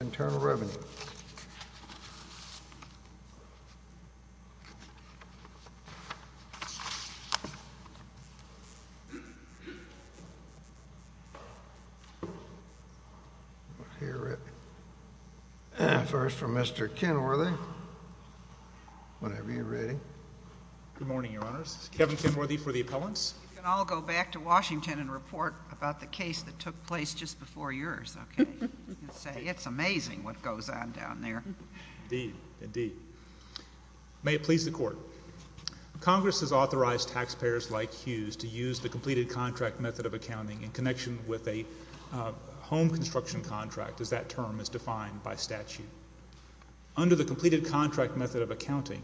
Internal Revenue First from Mr. Kenworthy, whenever you're ready. Good morning, your honors. Kevin Kenworthy for the appellants. You can all go back to Washington and report about the case that took place just before yours, okay? You can say, it's amazing what goes on down there. Indeed, indeed. May it please the court. Congress has authorized taxpayers like Hughes to use the completed contract method of accounting in connection with a home construction contract, as that term is defined by statute. Under the completed contract method of accounting,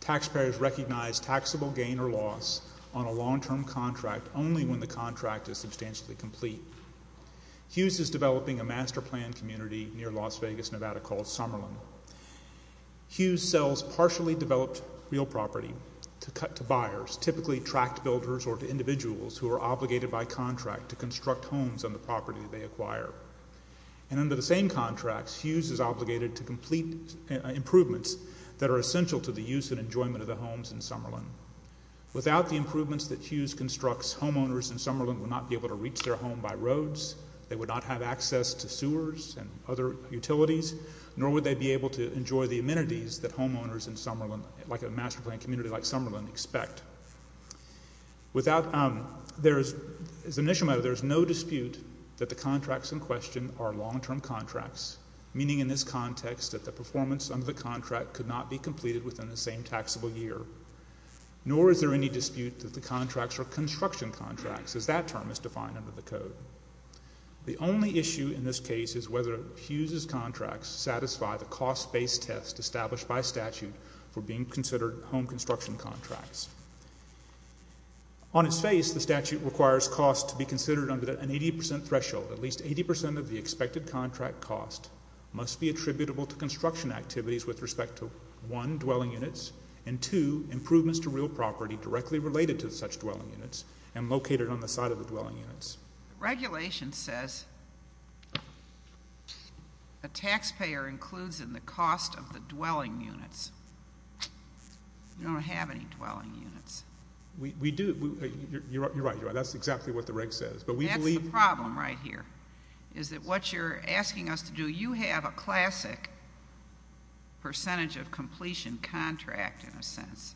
taxpayers recognize taxable gain or loss on a long-term contract only when the contract is substantially complete. Hughes is developing a master plan community near Las Vegas, Nevada, called Summerlin. Hughes sells partially developed real property to buyers, typically tract builders or to individuals who are obligated by contract to construct homes on the property they acquire. And under the same contracts, Hughes is obligated to complete improvements that are essential to the use and enjoyment of the homes in Summerlin. Without the improvements that Hughes constructs, homeowners in Summerlin would not be able to reach their home by roads, they would not have access to sewers and other utilities, nor would they be able to enjoy the amenities that homeowners in Summerlin, like a master plan community like Summerlin, expect. Without, there is, as an issue matter, there is no dispute that the contracts in question are long-term contracts, meaning in this context that the performance under the contract could not be completed within the same taxable year. Nor is there any dispute that the contracts are construction contracts, as that term is defined under the code. The only issue in this case is whether Hughes's contracts satisfy the cost-based test established by statute for being considered home construction contracts. On its face, the statute requires costs to be considered under an 80% threshold. At least 80% of the expected contract cost must be attributable to construction activities with respect to, one, dwelling units, and two, improvements to real property directly related to such dwelling units and located on the site of the dwelling units. The regulation says a taxpayer includes in the cost of the dwelling units. We don't have any dwelling units. We do. You're right. That's exactly what the reg says. That's the problem right here, is that what you're asking us to do, you have a classic percentage-of-completion contract, in a sense.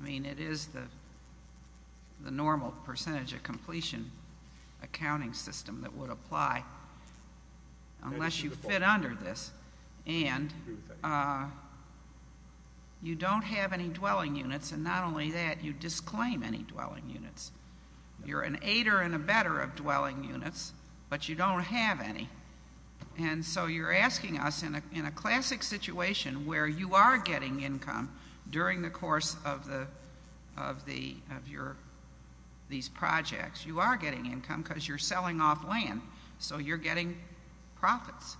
I mean, it is the normal percentage-of-completion accounting system that would apply unless you fit under this, and you don't have any dwelling units, and not only that, you disclaim any dwelling units. You're an aider and abetter of dwelling units, but you don't have any. And so you're asking us, in a classic situation where you are getting income during the course of these projects, you are getting income because you're selling off land, so you're getting profits.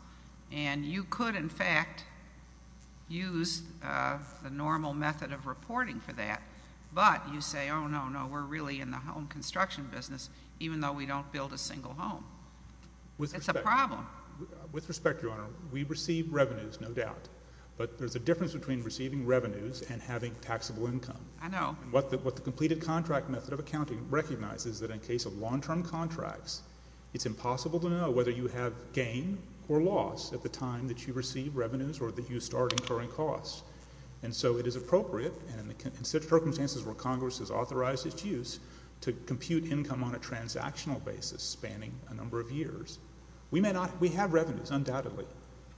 And you could, in fact, use the normal method of reporting for that, but you say, oh, no, no, we're really in the home construction business, even though we don't build a single home. It's a problem. With respect, Your Honor, we receive revenues, no doubt, but there's a difference between receiving revenues and having taxable income. I know. What the completed contract method of accounting recognizes is that in case of long-term contracts, it's impossible to know whether you have gain or loss at the time that you receive revenues or that you start incurring costs. And so it is appropriate, and in such circumstances where Congress has authorized its use, to compute income on a transactional basis, spanning a number of years, we may not, we have revenues, undoubtedly,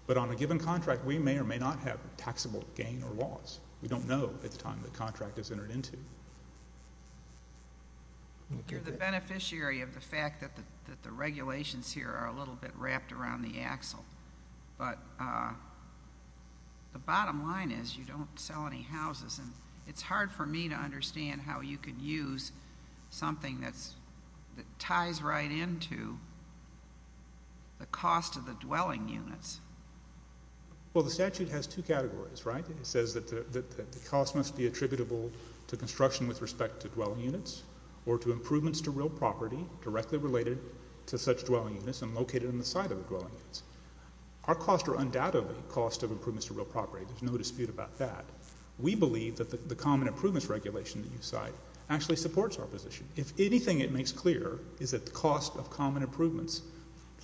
but on a given contract, we may or may not have taxable gain or loss. We don't know at the time the contract is entered into. You're the beneficiary of the fact that the regulations here are a little bit wrapped around the axle, but the bottom line is you don't sell any houses, and it's hard for me to understand how you could use something that ties right into the cost of the dwelling units. Well, the statute has two categories, right? It says that the cost must be attributable to construction with respect to dwelling units or to improvements to real property directly related to such dwelling units and located on the side of the dwelling units. Our costs are undoubtedly cost of improvements to real property. There's no dispute about that. We believe that the common improvements regulation that you cite actually supports our position. If anything, it makes clear is that the cost of common improvements,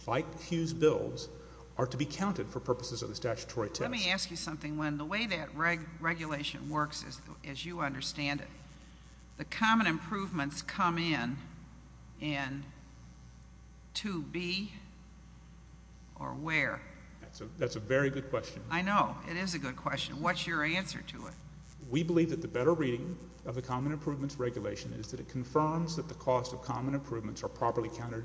like Hughes Bills, are to be counted for purposes of the statutory test. Let me ask you something, Len. The way that regulation works, as you understand it, the common improvements come in and to be or where? That's a very good question. I know, it is a good question. What's your answer to it? We believe that the better reading of the common improvements regulation is that it confirms that the cost of common improvements are properly counted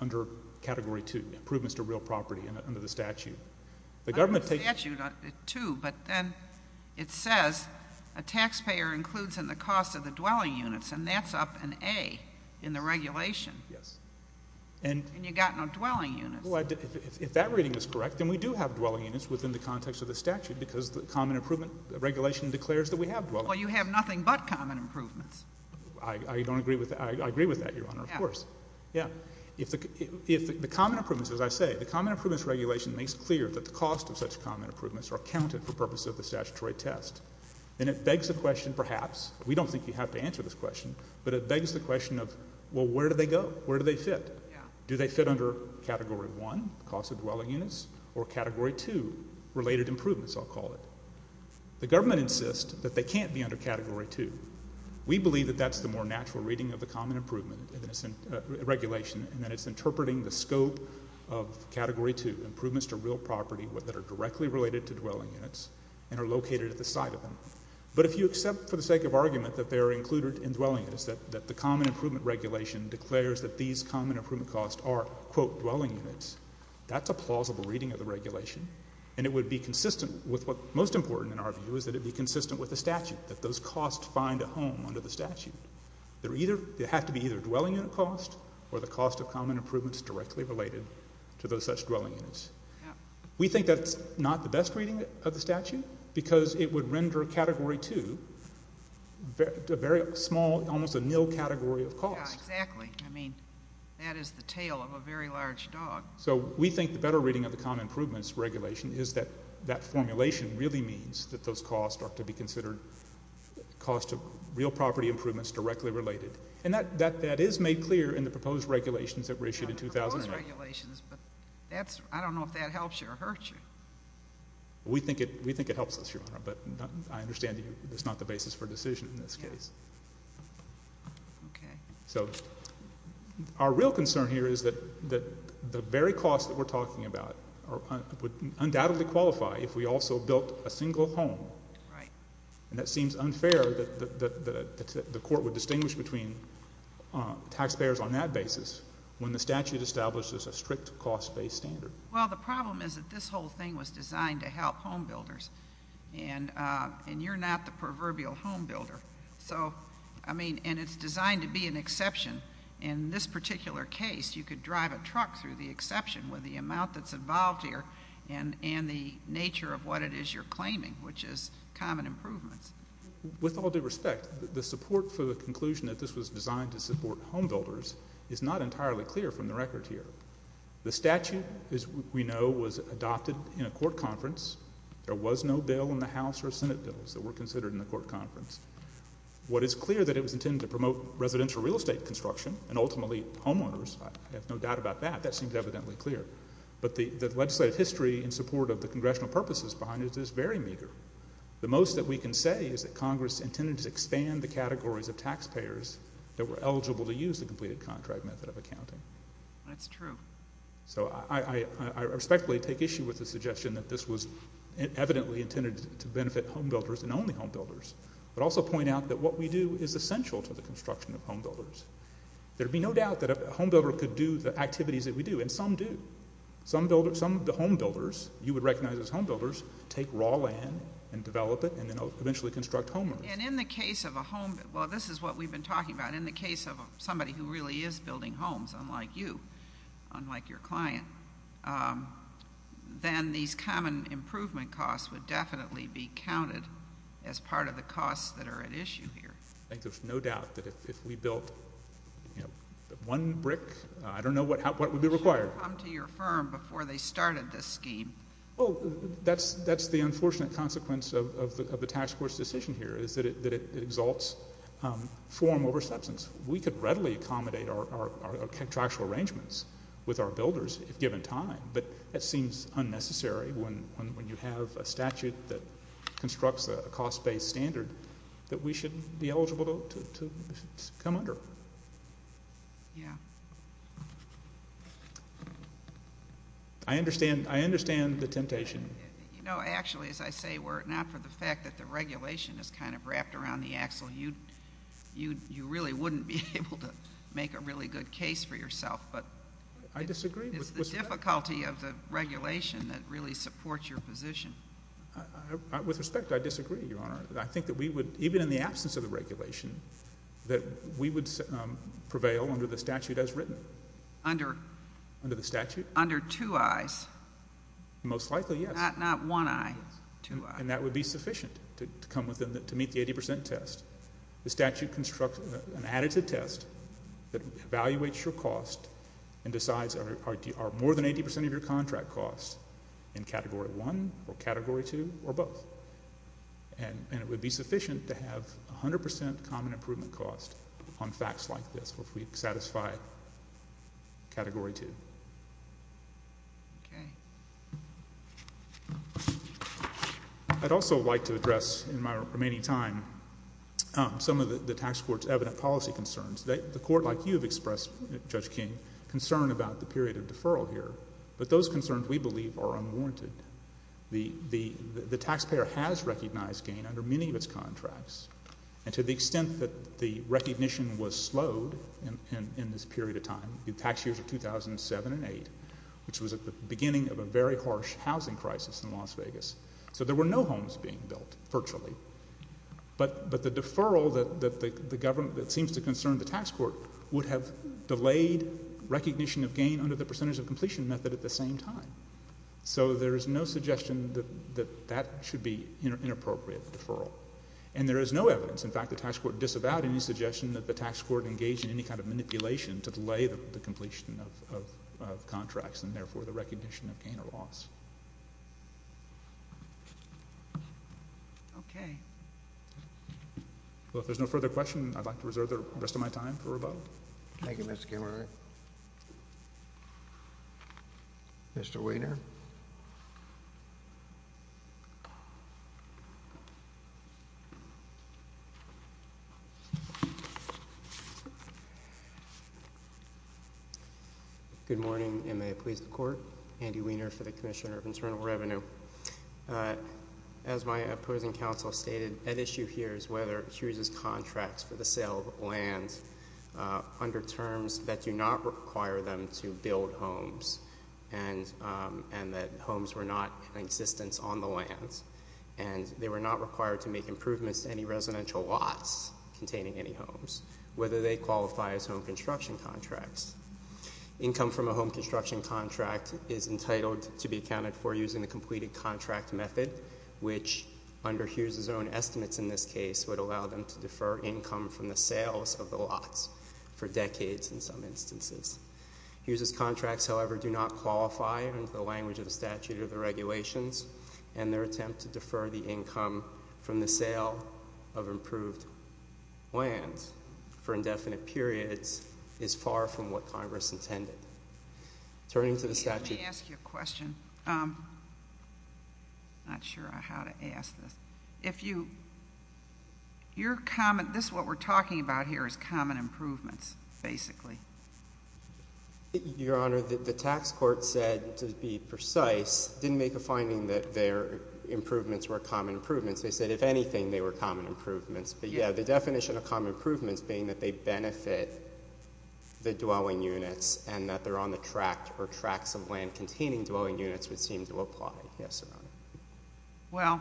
under category two, improvements to real property under the statute. The government takes statute two, but then it says a taxpayer includes in the cost of the dwelling units, and that's up an A in the regulation. Yes. And you got no dwelling units. Well, if that reading is correct, then we do have dwelling units within the context of the statute because the common improvement regulation declares that we have dwelling. Well, you have nothing but common improvements. I don't agree with that. I agree with that, Your Honor, of course. Yeah. If the common improvements, as I say, the common improvements regulation makes clear that the cost of such common improvements are counted for purposes of the statutory test, then it begs the question, perhaps, we don't think you have to answer this question, but it begs the question of, well, where do they go? Where do they fit? Yeah. Do they fit under category one, cost of category two, related improvements, I'll call it. The government insists that they can't be under category two. We believe that that's the more natural reading of the common improvement regulation and that it's interpreting the scope of category two, improvements to real property that are directly related to dwelling units and are located at the site of them. But if you accept for the sake of argument that they're included in dwelling units, that the common improvement regulation declares that these common improvement costs are, quote, dwelling units, that's a regulation, and it would be consistent with what most important in our view is that it be consistent with the statute, that those costs find a home under the statute. They're either, they have to be either dwelling unit cost or the cost of common improvements directly related to those such dwelling units. Yeah. We think that's not the best reading of the statute because it would render category two a very small, almost a nil category of cost. Yeah, exactly. I mean, that is the tail of a very large dog. So we think the better reading of the common improvements regulation is that that formulation really means that those costs are to be considered cost of real property improvements directly related. And that is made clear in the proposed regulations that were issued in 2009. Proposed regulations, but that's, I don't know if that helps you or hurts you. We think it helps us, Your Honor, but I understand that that's not the basis for decision in this case. Okay. So our real concern here is that the very cost that we're talking about would undoubtedly qualify if we also built a single home. Right. And that seems unfair that the court would distinguish between taxpayers on that basis when the statute establishes a strict cost-based standard. Well, the problem is that this whole thing was designed to help home builders, and you're not the proverbial home builder. So, I mean, and it's designed to be an exception in this particular case. You could drive a truck through the exception with the amount that's involved here and the nature of what it is you're claiming, which is common improvements. With all due respect, the support for the conclusion that this was designed to support home builders is not entirely clear from the record here. The statute, as we know, was adopted in a court conference. There was no bill in the House or Senate bills that were considered in the ultimately homeowners. I have no doubt about that. That seems evidently clear. But the legislative history in support of the congressional purposes behind it is very meager. The most that we can say is that Congress intended to expand the categories of taxpayers that were eligible to use the completed contract method of accounting. That's true. So I respectfully take issue with the suggestion that this was evidently intended to benefit home builders and only home builders, but also point out that what we do is essential to the construction of home builders. There'd be no doubt that a home builder could do the activities that we do, and some do. Some of the home builders, you would recognize as home builders, take raw land and develop it and then eventually construct homeowners. And in the case of a home, well, this is what we've been talking about. In the case of somebody who really is building homes, unlike you, unlike your client, then these common improvement costs would definitely be counted as part of the costs that are at issue here. I think there's no doubt that if we built, you know, one brick, I don't know what would be required. They should have come to your firm before they started this scheme. Well, that's the unfortunate consequence of the task force decision here, is that it exalts form over substance. We could readily accommodate our contractual arrangements with our builders, if given time, but that seems unnecessary when you have a statute that constructs a cost-based standard that we should be eligible to come under. Yeah. I understand. I understand the temptation. You know, actually, as I say, we're not for the fact that the regulation is kind of wrapped around the axle. You really wouldn't be able to make a really good case for yourself. But I disagree. It's the difficulty of the regulation that really supports your position. With respect, I disagree, Your Honor. I think that we would, even in the absence of the regulation, that we would prevail under the statute as written. Under? Under the statute. Under two I's. Most likely, yes. Not one I, two I's. And that would be sufficient to come within, to meet the 80 percent test. The statute constructs an additive test that evaluates your cost and decides are more than 80 percent of your or both. And it would be sufficient to have 100 percent common improvement cost on facts like this if we satisfy Category 2. Okay. I'd also like to address, in my remaining time, some of the tax court's evident policy concerns. The court, like you have expressed, Judge King, concern about the period of deferral here. But those concerns, we believe, are unwarranted. The taxpayer has recognized gain under many of its contracts. And to the extent that the recognition was slowed in this period of time, the tax years of 2007 and 2008, which was at the beginning of a very harsh housing crisis in Las Vegas, so there were no homes being built, virtually. But the deferral that the government, that seems to concern the tax court, would have the same time. So there is no suggestion that that should be an inappropriate deferral. And there is no evidence, in fact, the tax court disavowed any suggestion that the tax court engaged in any kind of manipulation to delay the completion of contracts and, therefore, the recognition of gain or loss. Okay. Well, if there's no further question, I'd like to reserve the rest of my time for a vote. Thank you, Mr. Kemmerer. Mr. Wiener. Good morning, and may it please the court. Andy Wiener for the Commissioner of Internal Revenue. As my opposing counsel stated, at issue here is whether it chooses contracts for the sale of land under terms that do not require them to build homes. And that homes were not in existence on the lands. And they were not required to make improvements to any residential lots containing any homes, whether they qualify as home construction contracts. Income from a home construction contract is entitled to be accounted for using the completed contract method, which, under Hughes' own estimates in this case, would allow them to defer income from the sales of the lots for decades in some instances. Hughes' contracts, however, do not qualify under the language of the statute or the regulations. And their attempt to defer the income from the sale of improved lands for indefinite periods is far from what Congress intended. Turning to the statute— Let me ask you a question. Not sure how to ask this. If you—your comment—this is what we're talking about here is common improvements, basically. Your Honor, the tax court said, to be precise, didn't make a finding that their improvements were common improvements. They said, if anything, they were common improvements. But, yeah, the definition of common improvements being that they benefit the dwelling units and that they're on the tract or tracts of land containing dwelling units would seem to apply. Yes, Your Honor. Well,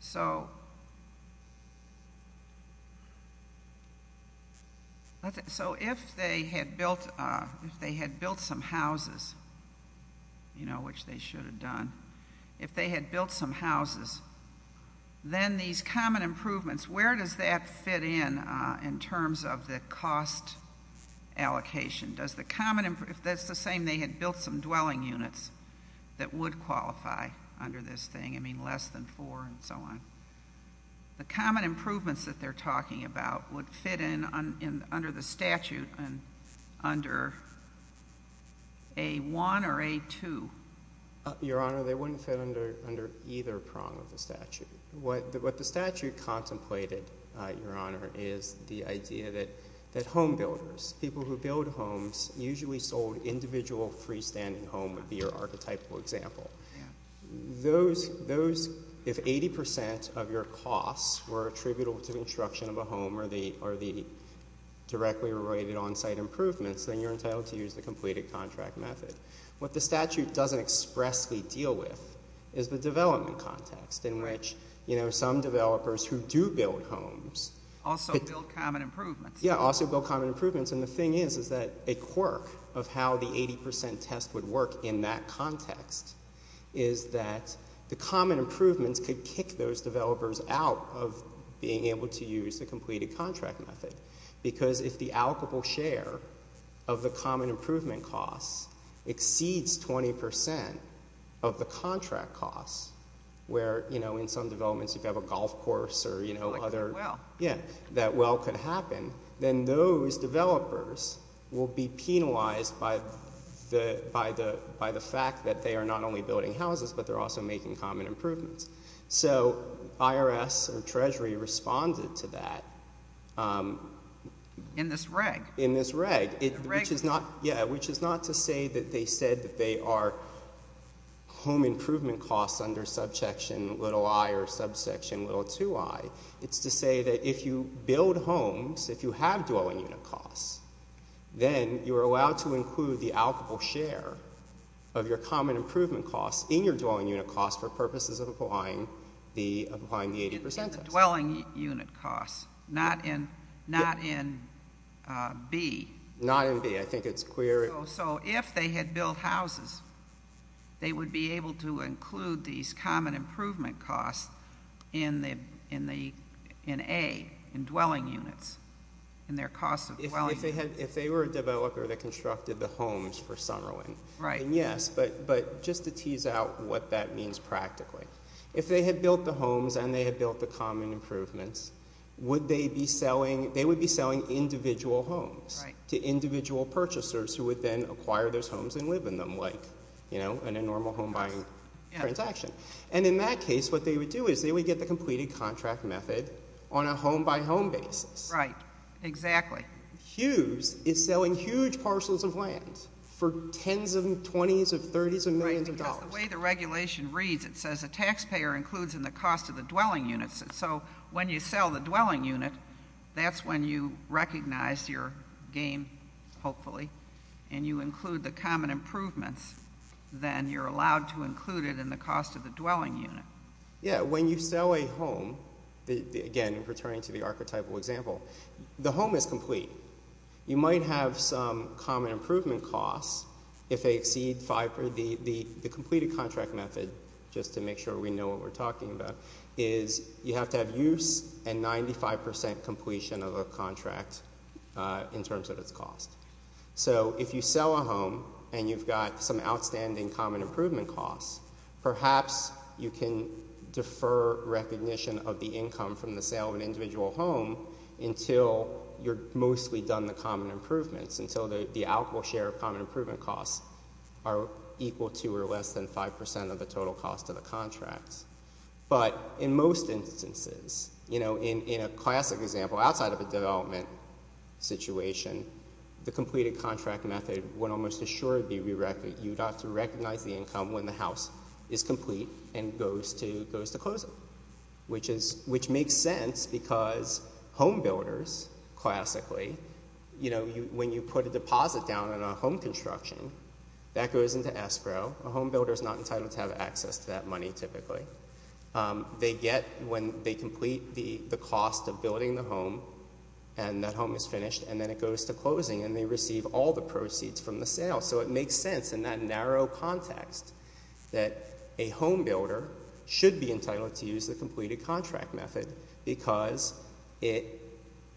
so—so if they had built—if they had built some houses, you know, which they should have done, if they had built some houses, then these common improvements, where does that fit in in terms of the cost allocation? Does the common—if that's the same, they had built some dwelling units that would qualify under this thing, I mean, less than four and so on. The common improvements that they're talking about would fit in under the statute under A-1 or A-2? Your Honor, they wouldn't fit under either prong of the statute. What the statute contemplated, Your Honor, is the idea that home builders, people who build homes, usually sold individual freestanding home would be your archetypal example. Those—those—if 80 percent of your costs were attributable to the construction of a home or the—or the directly related on-site improvements, then you're entitled to use the completed contract method. What the statute doesn't expressly deal with is the development context in which, you know, some developers who do build homes— Also build common improvements. Yeah, also build common improvements. And the thing is, is that a quirk of how the 80 percent test would work in that context is that the common improvements could kick those developers out of being able to use the completed contract method. Because if the allocable share of the common improvement costs exceeds 20 percent of the contract costs, where, you know, in some developments you could have a golf course or, you know, other— Like a well. Yeah, that well could happen. Then those developers will be penalized by the—by the—by the fact that they are not only building houses, but they're also making common improvements. So IRS or Treasury responded to that. In this reg. In this reg. The reg— Which is not—yeah, which is not to say that they said that they are home improvement costs under subsection little i or subsection little 2i. It's to say that if you build homes, if you have dwelling unit costs, then you are allowed to include the allocable share of your common improvement costs in your dwelling unit costs for purposes of applying the—applying the 80 percent test. In the dwelling unit costs, not in—not in B. Not in B. I think it's clear— So if they had built houses, they would be able to include these common improvement costs in the—in the—in A, in dwelling units, in their cost of dwelling units. If they were a developer that constructed the homes for Summerlin. Right. Yes, but—but just to tease out what that means practically. If they had built the homes and they had built the common improvements, would they be selling—they would be selling to individual purchasers who would then acquire those homes and live in them like, you know, in a normal home buying transaction. And in that case, what they would do is they would get the completed contract method on a home-by-home basis. Right. Exactly. Hughes is selling huge parcels of land for tens of—twenties of—thirties of millions of dollars. The way the regulation reads, it says a taxpayer includes in the cost of the dwelling units. So when you sell the dwelling unit, that's when you recognize your gain, hopefully, and you include the common improvements. Then you're allowed to include it in the cost of the dwelling unit. Yeah, when you sell a home, again, returning to the archetypal example, the home is complete. You might have some common improvement costs if they exceed five—the completed contract method, just to make sure we know what we're talking about, is you have to have use and 95 percent completion of a contract in terms of its cost. So if you sell a home and you've got some outstanding common improvement costs, perhaps you can defer recognition of the income from the sale of an individual home until you're mostly done the common improvements, until the outflow share of common improvement costs are equal to or less than five percent of the total cost of the contract. But in most instances, you know, in a classic example, outside of a development situation, the completed contract method would almost assuredly be—you'd have to recognize the income when the house is complete and goes to closing, which makes sense because home builders, classically, you know, when you put a deposit down on a home construction, that goes into escrow. A home builder is not entitled to have access to that money typically. They get—when they complete the cost of building the home and that home is finished and then it goes to closing and they receive all the proceeds from the sale. So it makes sense in that narrow context that a home builder should be entitled to use the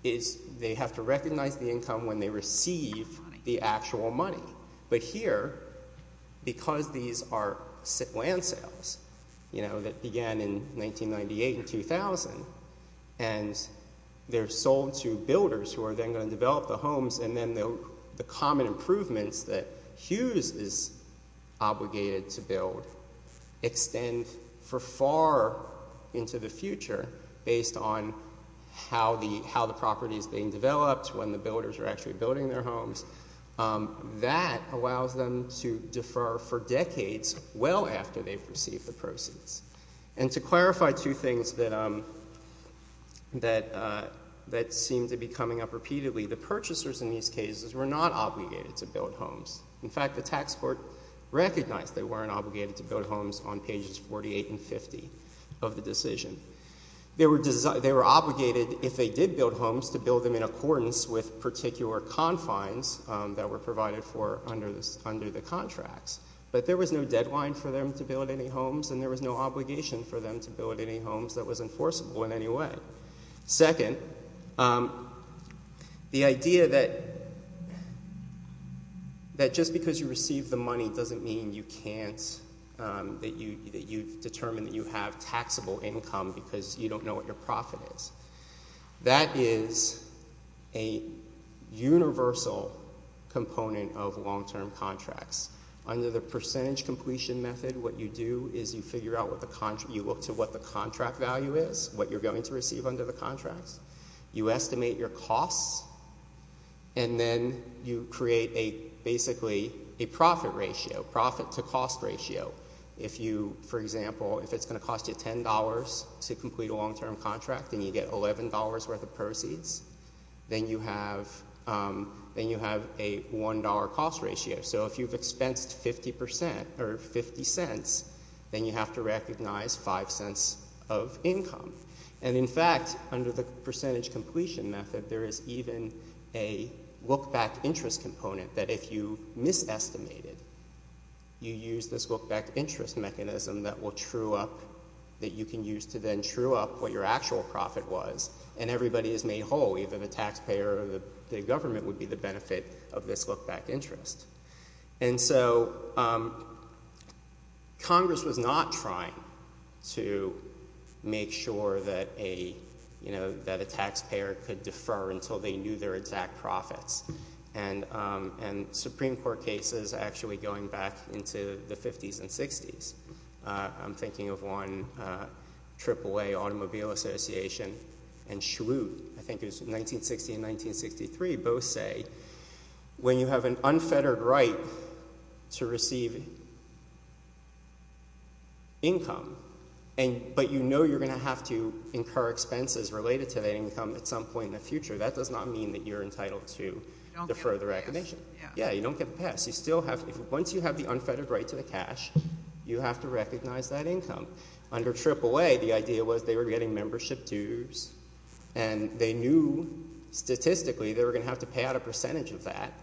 is—they have to recognize the income when they receive the actual money. But here, because these are land sales, you know, that began in 1998 and 2000, and they're sold to builders who are then going to develop the homes and then the common improvements that Hughes is obligated to build extend for far into the future based on how the property is being developed, when the builders are actually building their homes. That allows them to defer for decades well after they've received the proceeds. And to clarify two things that seem to be coming up repeatedly, the purchasers in these cases were not obligated to build homes. In fact, the tax court recognized they weren't obligated to build homes on pages 48 and 50 of the decision. They were—they were obligated, if they did build homes, to build them in accordance with particular confines that were provided for under the contracts. But there was no deadline for them to build any homes and there was no obligation for them to build any homes that was enforceable in any way. Second, the idea that just because you receive the money doesn't mean you can't—that you've determined that you have taxable income because you don't know what your profit is. That is a universal component of long-term contracts. Under the percentage completion method, what you do is you figure out what the—you look to what the contract value is, what you're going to receive under the contracts. You estimate your costs and then you create a—basically a profit ratio, profit to cost ratio. If you, for example, if it's going to cost you $10 to complete a long-term contract and you get $11 worth of proceeds, then you have—then you have a $1 cost ratio. So if you've expensed 50 percent or 50 cents, then you have to recognize 5 cents of income. And in fact, under the percentage completion method, there is even a look-back interest component that if you misestimated, you use this look-back interest mechanism that will true up—that you can use to then true up what your actual profit was and everybody is made whole. Even the taxpayer or the government would be the benefit of this look-back interest. And so Congress was not trying to make sure that a taxpayer could defer until they knew their exact profits. And Supreme Court cases actually going back into the 50s and 60s—I'm thinking of one, AAA Automobile Association and Schwoot, I think it was 1960 and 1963, both say when you have an unfettered right to receive income, but you know you're going to have to incur expenses related to that income at some point in the future, that does not mean that you're going to defer the recognition. You don't get the pass. Yeah, you don't get the pass. You still have—once you have the unfettered right to the cash, you have to recognize that income. Under AAA, the idea was they were getting membership dues and they knew statistically they were going to have to pay out a percentage of that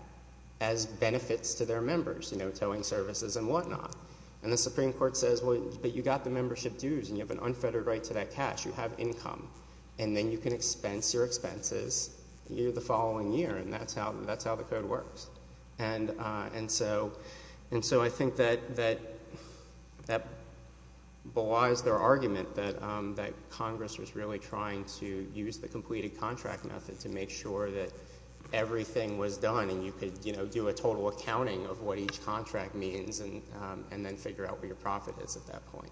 as benefits to their members, you know, towing services and whatnot. And the Supreme Court says, well, but you got the membership dues and you have an unfettered right to that cash. You have income. And then you can expense your expenses the following year. And that's how the code works. And so I think that belies their argument that Congress was really trying to use the completed contract method to make sure that everything was done and you could, you know, do a total accounting of what each contract means and then figure out where your profit is at that point.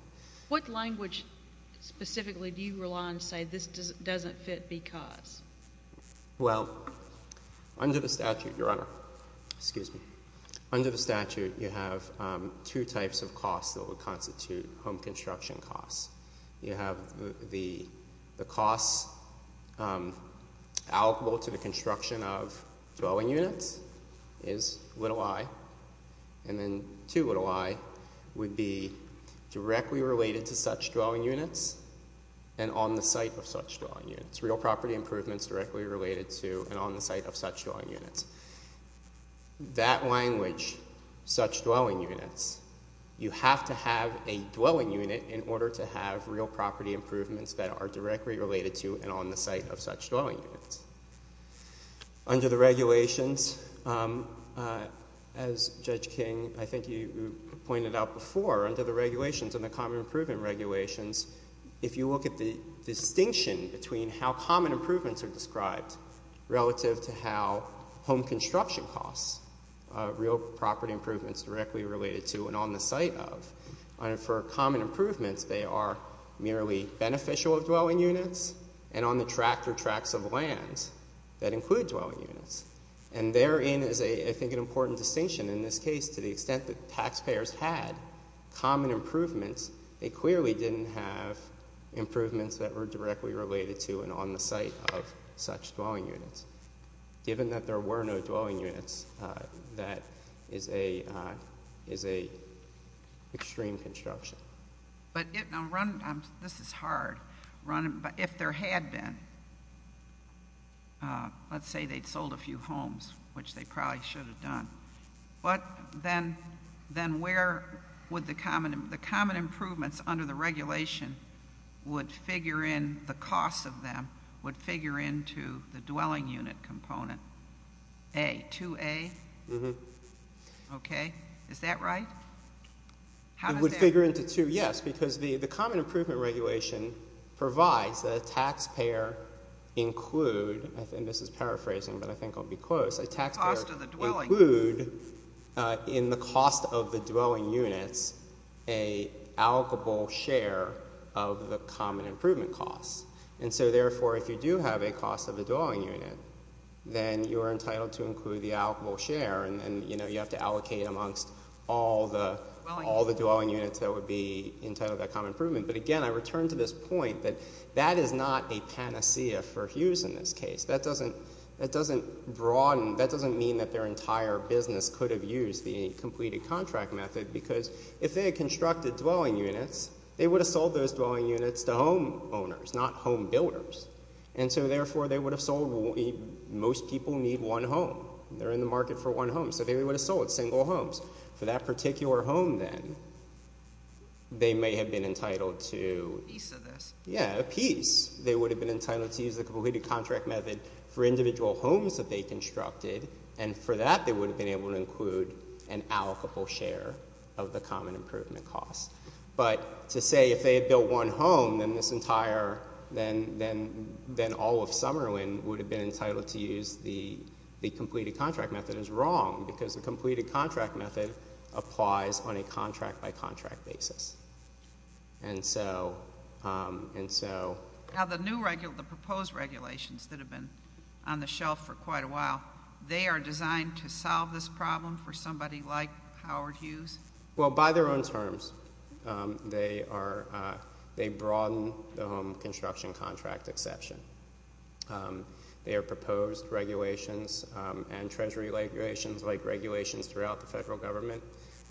What language specifically do you rely on to say this doesn't fit because? Well, under the statute, Your Honor—excuse me. Under the statute, you have two types of costs that would constitute home construction costs. You have the costs allocable to the construction of towing units is little i. And then two little i would be directly related to such towing units and on the site of such towing units. Real property improvements directly related to and on the site of such towing units. That language, such towing units, you have to have a towing unit in order to have real property improvements that are directly related to and on the site of such towing units. Under the regulations, as Judge King, I think you pointed out before, under the regulations and the common improvement regulations, if you look at the distinction between how common improvements are described relative to how home construction costs real property improvements directly related to and on the site of, for common improvements, they are merely beneficial dwelling units and on the tract or tracts of land that include dwelling units. And therein is, I think, an important distinction. In this case, to the extent that taxpayers had common improvements, they clearly didn't have improvements that were directly related to and on the site of such towing units. Given that there were no towing units, that is an extreme construction. But this is hard. If there had been, let's say they sold a few homes, which they probably should have done, but then where would the common improvements under the regulation would figure in, the cost of them would figure into the dwelling unit component? A, 2A? Okay. Is that right? It would figure into two, yes, because the common improvement regulation provides that a taxpayer include, and this is paraphrasing, but I think I'll be close, a taxpayer include in the cost of the dwelling units a allocable share of the common improvement costs. And so, therefore, if you do have a cost of a dwelling unit, then you are entitled to all the dwelling units that would be entitled to that common improvement. But again, I return to this point that that is not a panacea for Hughes in this case. That doesn't broaden, that doesn't mean that their entire business could have used the completed contract method, because if they had constructed dwelling units, they would have sold those dwelling units to homeowners, not home builders. And so, therefore, they would have sold, most people need one home. They're in the market for one home. So they would have sold single homes. For that particular home, then, they may have been entitled to a piece. They would have been entitled to use the completed contract method for individual homes that they constructed, and for that, they would have been able to include an allocable share of the common improvement costs. But to say if they had built one home, then all of Summerlin would have been entitled to use the completed contract method is wrong, because the completed contract method applies on a contract-by-contract basis. And so- Now, the proposed regulations that have been on the shelf for quite a while, they are designed to solve this problem for somebody like Howard Hughes? Well, by their own terms, they broaden the home construction contract exception. Their proposed regulations and treasury regulations, like regulations throughout the federal government,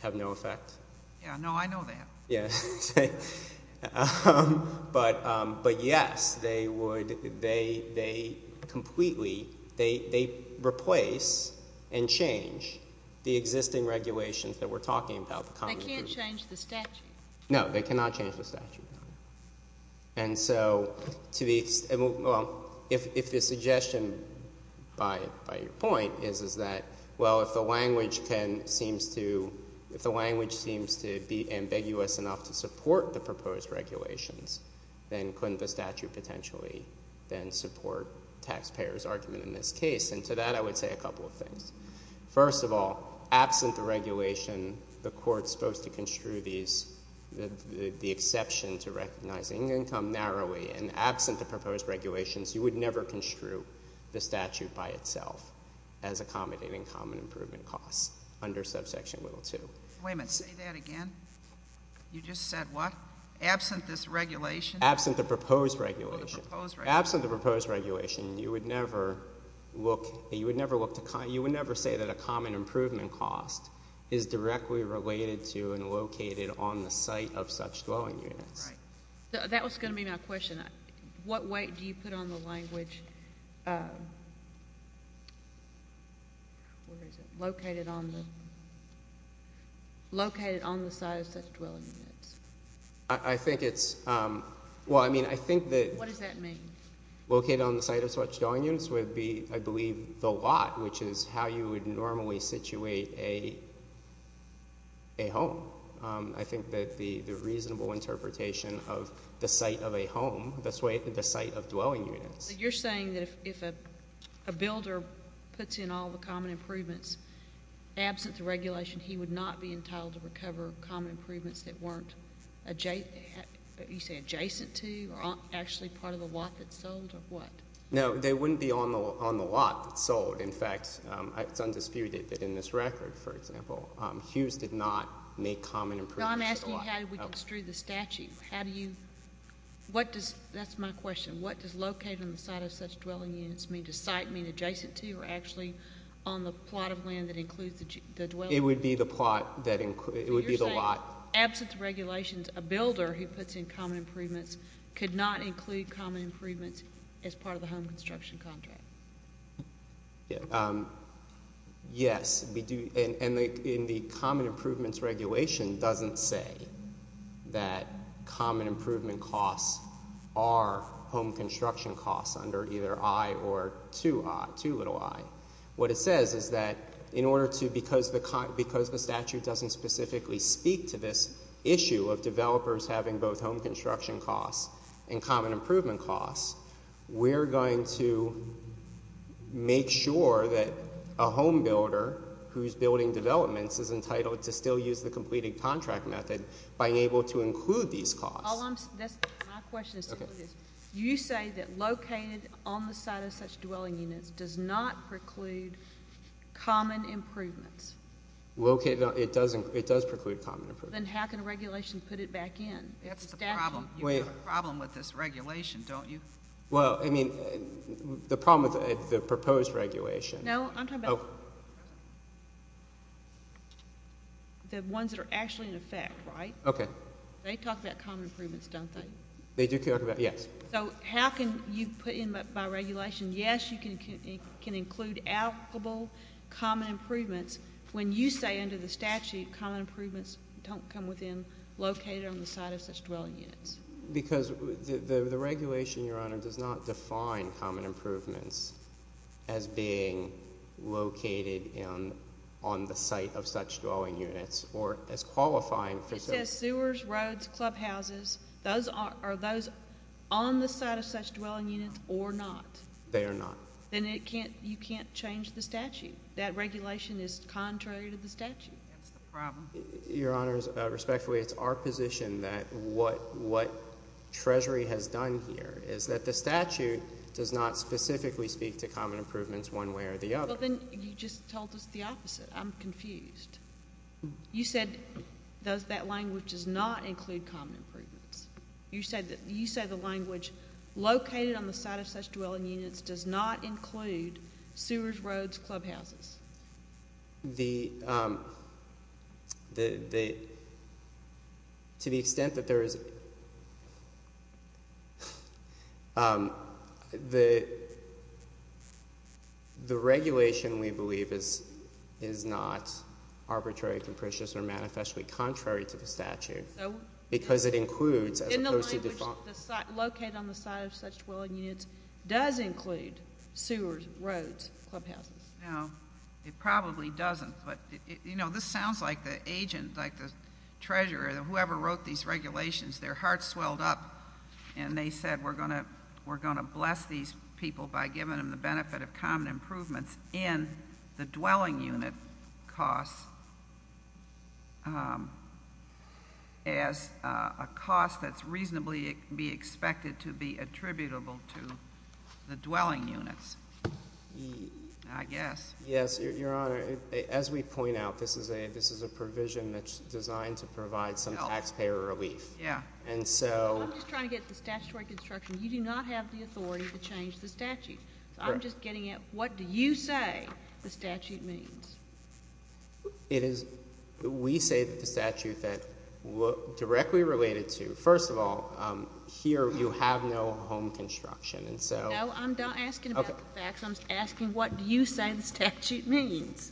have no effect. Yeah, no, I know that. Yeah. But yes, they would, they completely, they replace and change the existing regulations that we're talking about, the common improvement- They can't change the statute. No, they cannot change the statute. No. And so, to the, well, if the suggestion by your point is that, well, if the language can, seems to, if the language seems to be ambiguous enough to support the proposed regulations, then couldn't the statute potentially then support taxpayers' argument in this case? And to that, I would say a couple of things. First of all, absent the regulation, the court's supposed to construe these, the exception to recognizing income narrowly, and absent the proposed regulations, you would never construe the statute by itself as accommodating common improvement costs under subsection little two. Wait a minute, say that again. You just said what? Absent this regulation? Absent the proposed regulation. Oh, the proposed regulation. Absent the proposed regulation, you would never look, you would never look to, you would never say that a common improvement cost is directly related to and located on the site of such dwelling units. Right. That was going to be my question. What weight do you put on the language? Where is it? Located on the, located on the site of such dwelling units. I think it's, well, I mean, I think that. What does that mean? Located on the site of such dwelling units would be, I believe, the lot, which is how you would normally situate a home. I think that the reasonable interpretation of the site of a home, that's the site of dwelling units. You're saying that if a builder puts in all the common improvements, absent the regulation, he would not be entitled to recover common improvements that weren't adjacent to, or actually part of the lot that sold, or what? No, they wouldn't be on the lot that sold. In fact, it's undisputed that in this record, for example, Hughes did not make common improvements to the lot. I'm asking how do we construe the statute? How do you, what does, that's my question. What does located on the site of such dwelling units mean? Does site mean adjacent to, or actually on the plot of land that includes the dwelling? It would be the plot that includes, it would be the lot. Absent the regulations, a builder who puts in common improvements could not include common improvements as part of the home construction contract. Yes, and the common improvements regulation doesn't say that common improvement costs are home construction costs under either I or too little I. What it says is that in order to, because the statute doesn't specifically speak to this issue of developers having both home construction costs and common improvement costs, we're going to make sure that a home builder who's building developments is entitled to still use the completed contract method by being able to include these costs. All I'm, that's, my question is, you say that located on the site of such dwelling units does not preclude common improvements? Located on, it does preclude common improvements. Then how can a regulation put it back in? That's the problem. You have a problem with this regulation, don't you? Well, I mean, the problem with the proposed regulation. No, I'm talking about the ones that are actually in effect, right? Okay. They talk about common improvements, don't they? They do talk about, yes. So how can you put in by regulation, yes, you can include applicable common improvements when you say under the statute common improvements don't come within located on the site of such dwelling units? Because the regulation, Your Honor, does not define common improvements as being located on the site of such dwelling units or as qualifying for such. It says sewers, roads, clubhouses. Those are, are those on the site of such dwelling units or not? They are not. Then it can't, you can't change the statute. That regulation is contrary to the statute. That's the problem. Your Honor, respectfully, it's our position that what Treasury has done here is that the statute does not specifically speak to common improvements one way or the other. Well, then you just told us the opposite. I'm confused. You said that language does not include common improvements. You said the language located on the site of such dwelling units does not include sewers, roads, clubhouses. The, um, the, the, to the extent that there is, um, the, the regulation we believe is, is not arbitrary, capricious, or manifestly contrary to the statute. So? Because it includes, as opposed to default. In the language, the site, located on the site of such dwelling units does include sewers, roads, clubhouses. No, it probably doesn't. But, you know, this sounds like the agent, like the treasurer, whoever wrote these regulations, their hearts swelled up and they said we're going to, we're going to bless these people by giving them the benefit of common improvements in the dwelling unit costs, um, as a cost that's reasonably be expected to be attributable to the dwelling units. I guess. Yes, Your Honor, as we point out, this is a, this is a provision that's designed to provide some taxpayer relief. Yeah. And so. I'm just trying to get to the statutory construction. You do not have the authority to change the statute. I'm just getting at what do you say the statute means? It is, we say that the statute that look directly related to, first of all, um, here you have no home construction. And so. I'm not asking about the facts. I'm asking what do you say the statute means?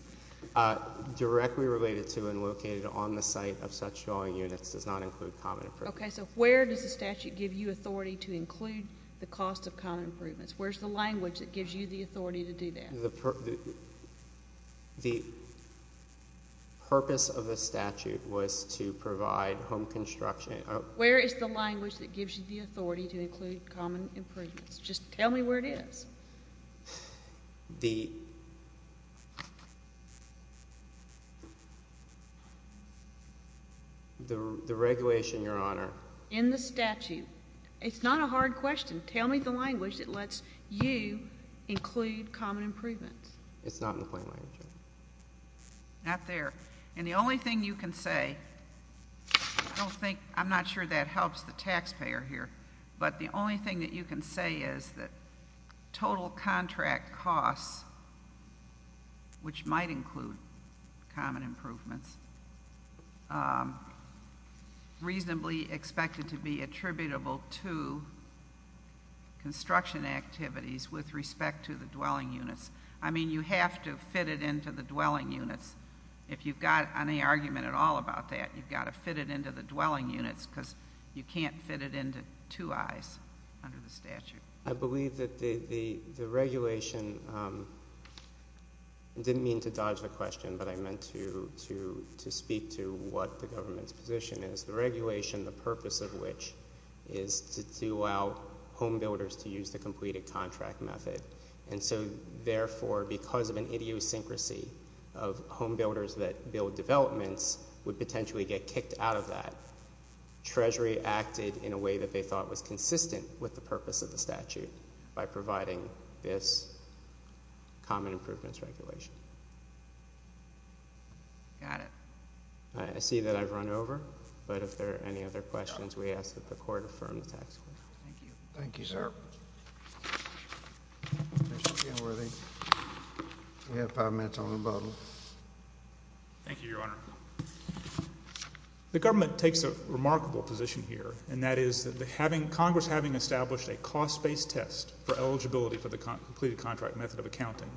Directly related to and located on the site of such dwelling units does not include common improvements. Okay. So where does the statute give you authority to include the cost of common improvements? Where's the language that gives you the authority to do that? The purpose of the statute was to provide home construction. Where is the language that gives you the authority to include common improvements? Just tell me where it is. The, the regulation, Your Honor. In the statute. It's not a hard question. Tell me the language that lets you include common improvements. It's not in the plain language. Not there. And the only thing you can say, I don't think, I'm not sure that helps the taxpayer here, but the only thing that you can say is that total contract costs, which might include common improvements, um, reasonably expected to be attributable to construction activities with respect to the dwelling units. I mean, you have to fit it into the dwelling units. If you've got any argument at all about that, you've got to fit it into the dwelling units because you can't fit it into two eyes under the statute. I believe that the, the, the regulation, um, didn't mean to dodge the question, but I meant to, to, to speak to what the government's position is. The regulation, the purpose of which is to allow home builders to use the completed contract method. And so, therefore, because of an idiosyncrasy of home builders that build developments would potentially get kicked out of that. Treasury acted in a way that they thought was consistent with the purpose of the statute by providing this common improvements regulation. Got it. All right. I see that I've run over, but if there are any other questions, we ask that the court affirm the tax. Thank you, sir. We have five minutes on the bottle. Thank you, Your Honor. The government takes a remarkable position here, and that is that having, Congress having established a cost-based test for eligibility for the completed contract method of accounting,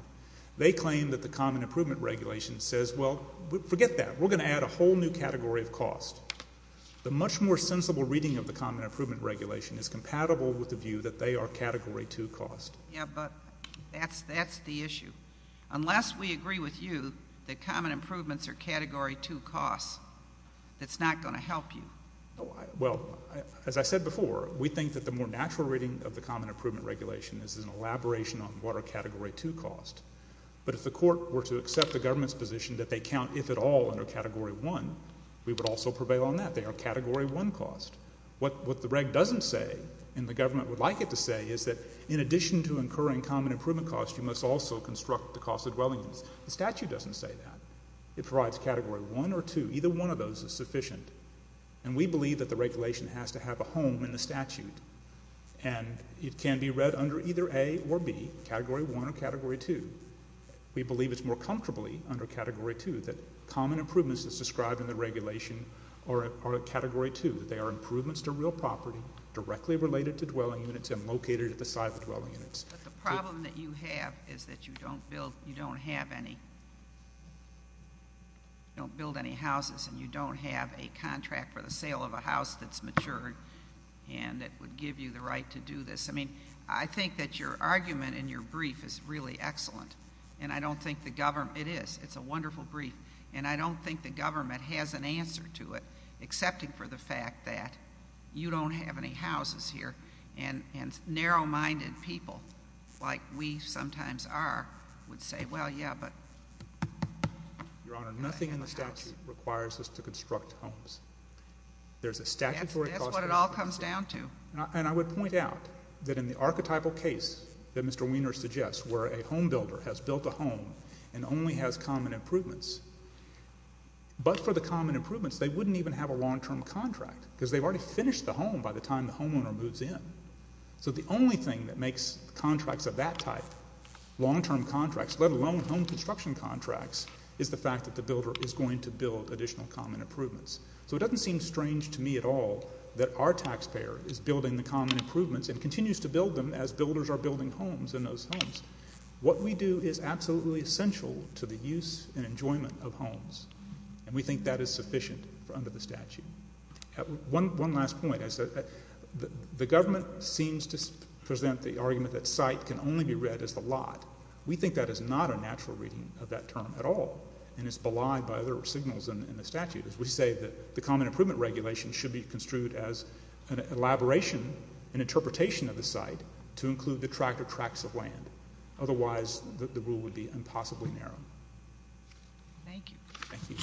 they claim that the common improvement regulation says, well, forget that. We're going to add a whole new category of cost. The much more sensible reading of the common improvement regulation is compatible with the view that they are category two cost. Yeah, but that's, that's the issue. Unless we agree with you that common improvements are category two cost, that's not going to help you. Well, as I said before, we think that the more natural reading of the common improvement regulation is an elaboration on what are category two cost. But if the court were to accept the government's position that they count, if at all, under category one, we would also prevail on that. They are category one cost. What the reg doesn't say, and the government would like it to say, is that in addition to incurring common improvement cost, you must also construct the cost of dwelling units. The statute doesn't say that. It provides category one or two. Either one of those is sufficient. And we believe that the regulation has to have a home in the statute. And it can be read under either A or B, category one or category two. We believe it's more comfortably under category two that common improvements as described in the regulation are category two, that they are improvements to real property directly related to dwelling units and located at the site of dwelling units. But the problem that you have is that you don't build, you don't have any, don't build any houses and you don't have a contract for the sale of a house that's matured and that would give you the right to do this. I mean, I think that your argument in your brief is really excellent. And I don't think the government, it is. It's a wonderful brief. And I don't think the government has an answer to it, excepting for the fact that you don't have any houses here. And narrow-minded people like we sometimes are would say, well, yeah, but. Your Honor, nothing in the statute requires us to construct homes. There's a statutory. That's what it all comes down to. And I would point out that in the archetypal case that Mr. Weiner suggests, where a home builder has built a home and only has common improvements, but for the common improvements, they wouldn't even have a long-term contract because they've already finished the home by the time the homeowner moves in. So the only thing that makes contracts of that type long-term contracts, let alone home construction contracts, is the fact that the builder is going to build additional common improvements. So it doesn't seem strange to me at all that our taxpayer is building the common improvements and continues to build them as builders are building homes in those homes. What we do is absolutely essential to the use and enjoyment of homes. And we think that is sufficient under the statute. One last point. The government seems to present the argument that site can only be read as the lot. We think that is not a natural reading of that term at all. And it's belied by other signals in the statute. As we say, the common improvement regulation should be construed as an elaboration, an interpretation of the site, to include the tract or tracts of land. Otherwise, the rule would be impossibly narrow. Thank you. Thank you.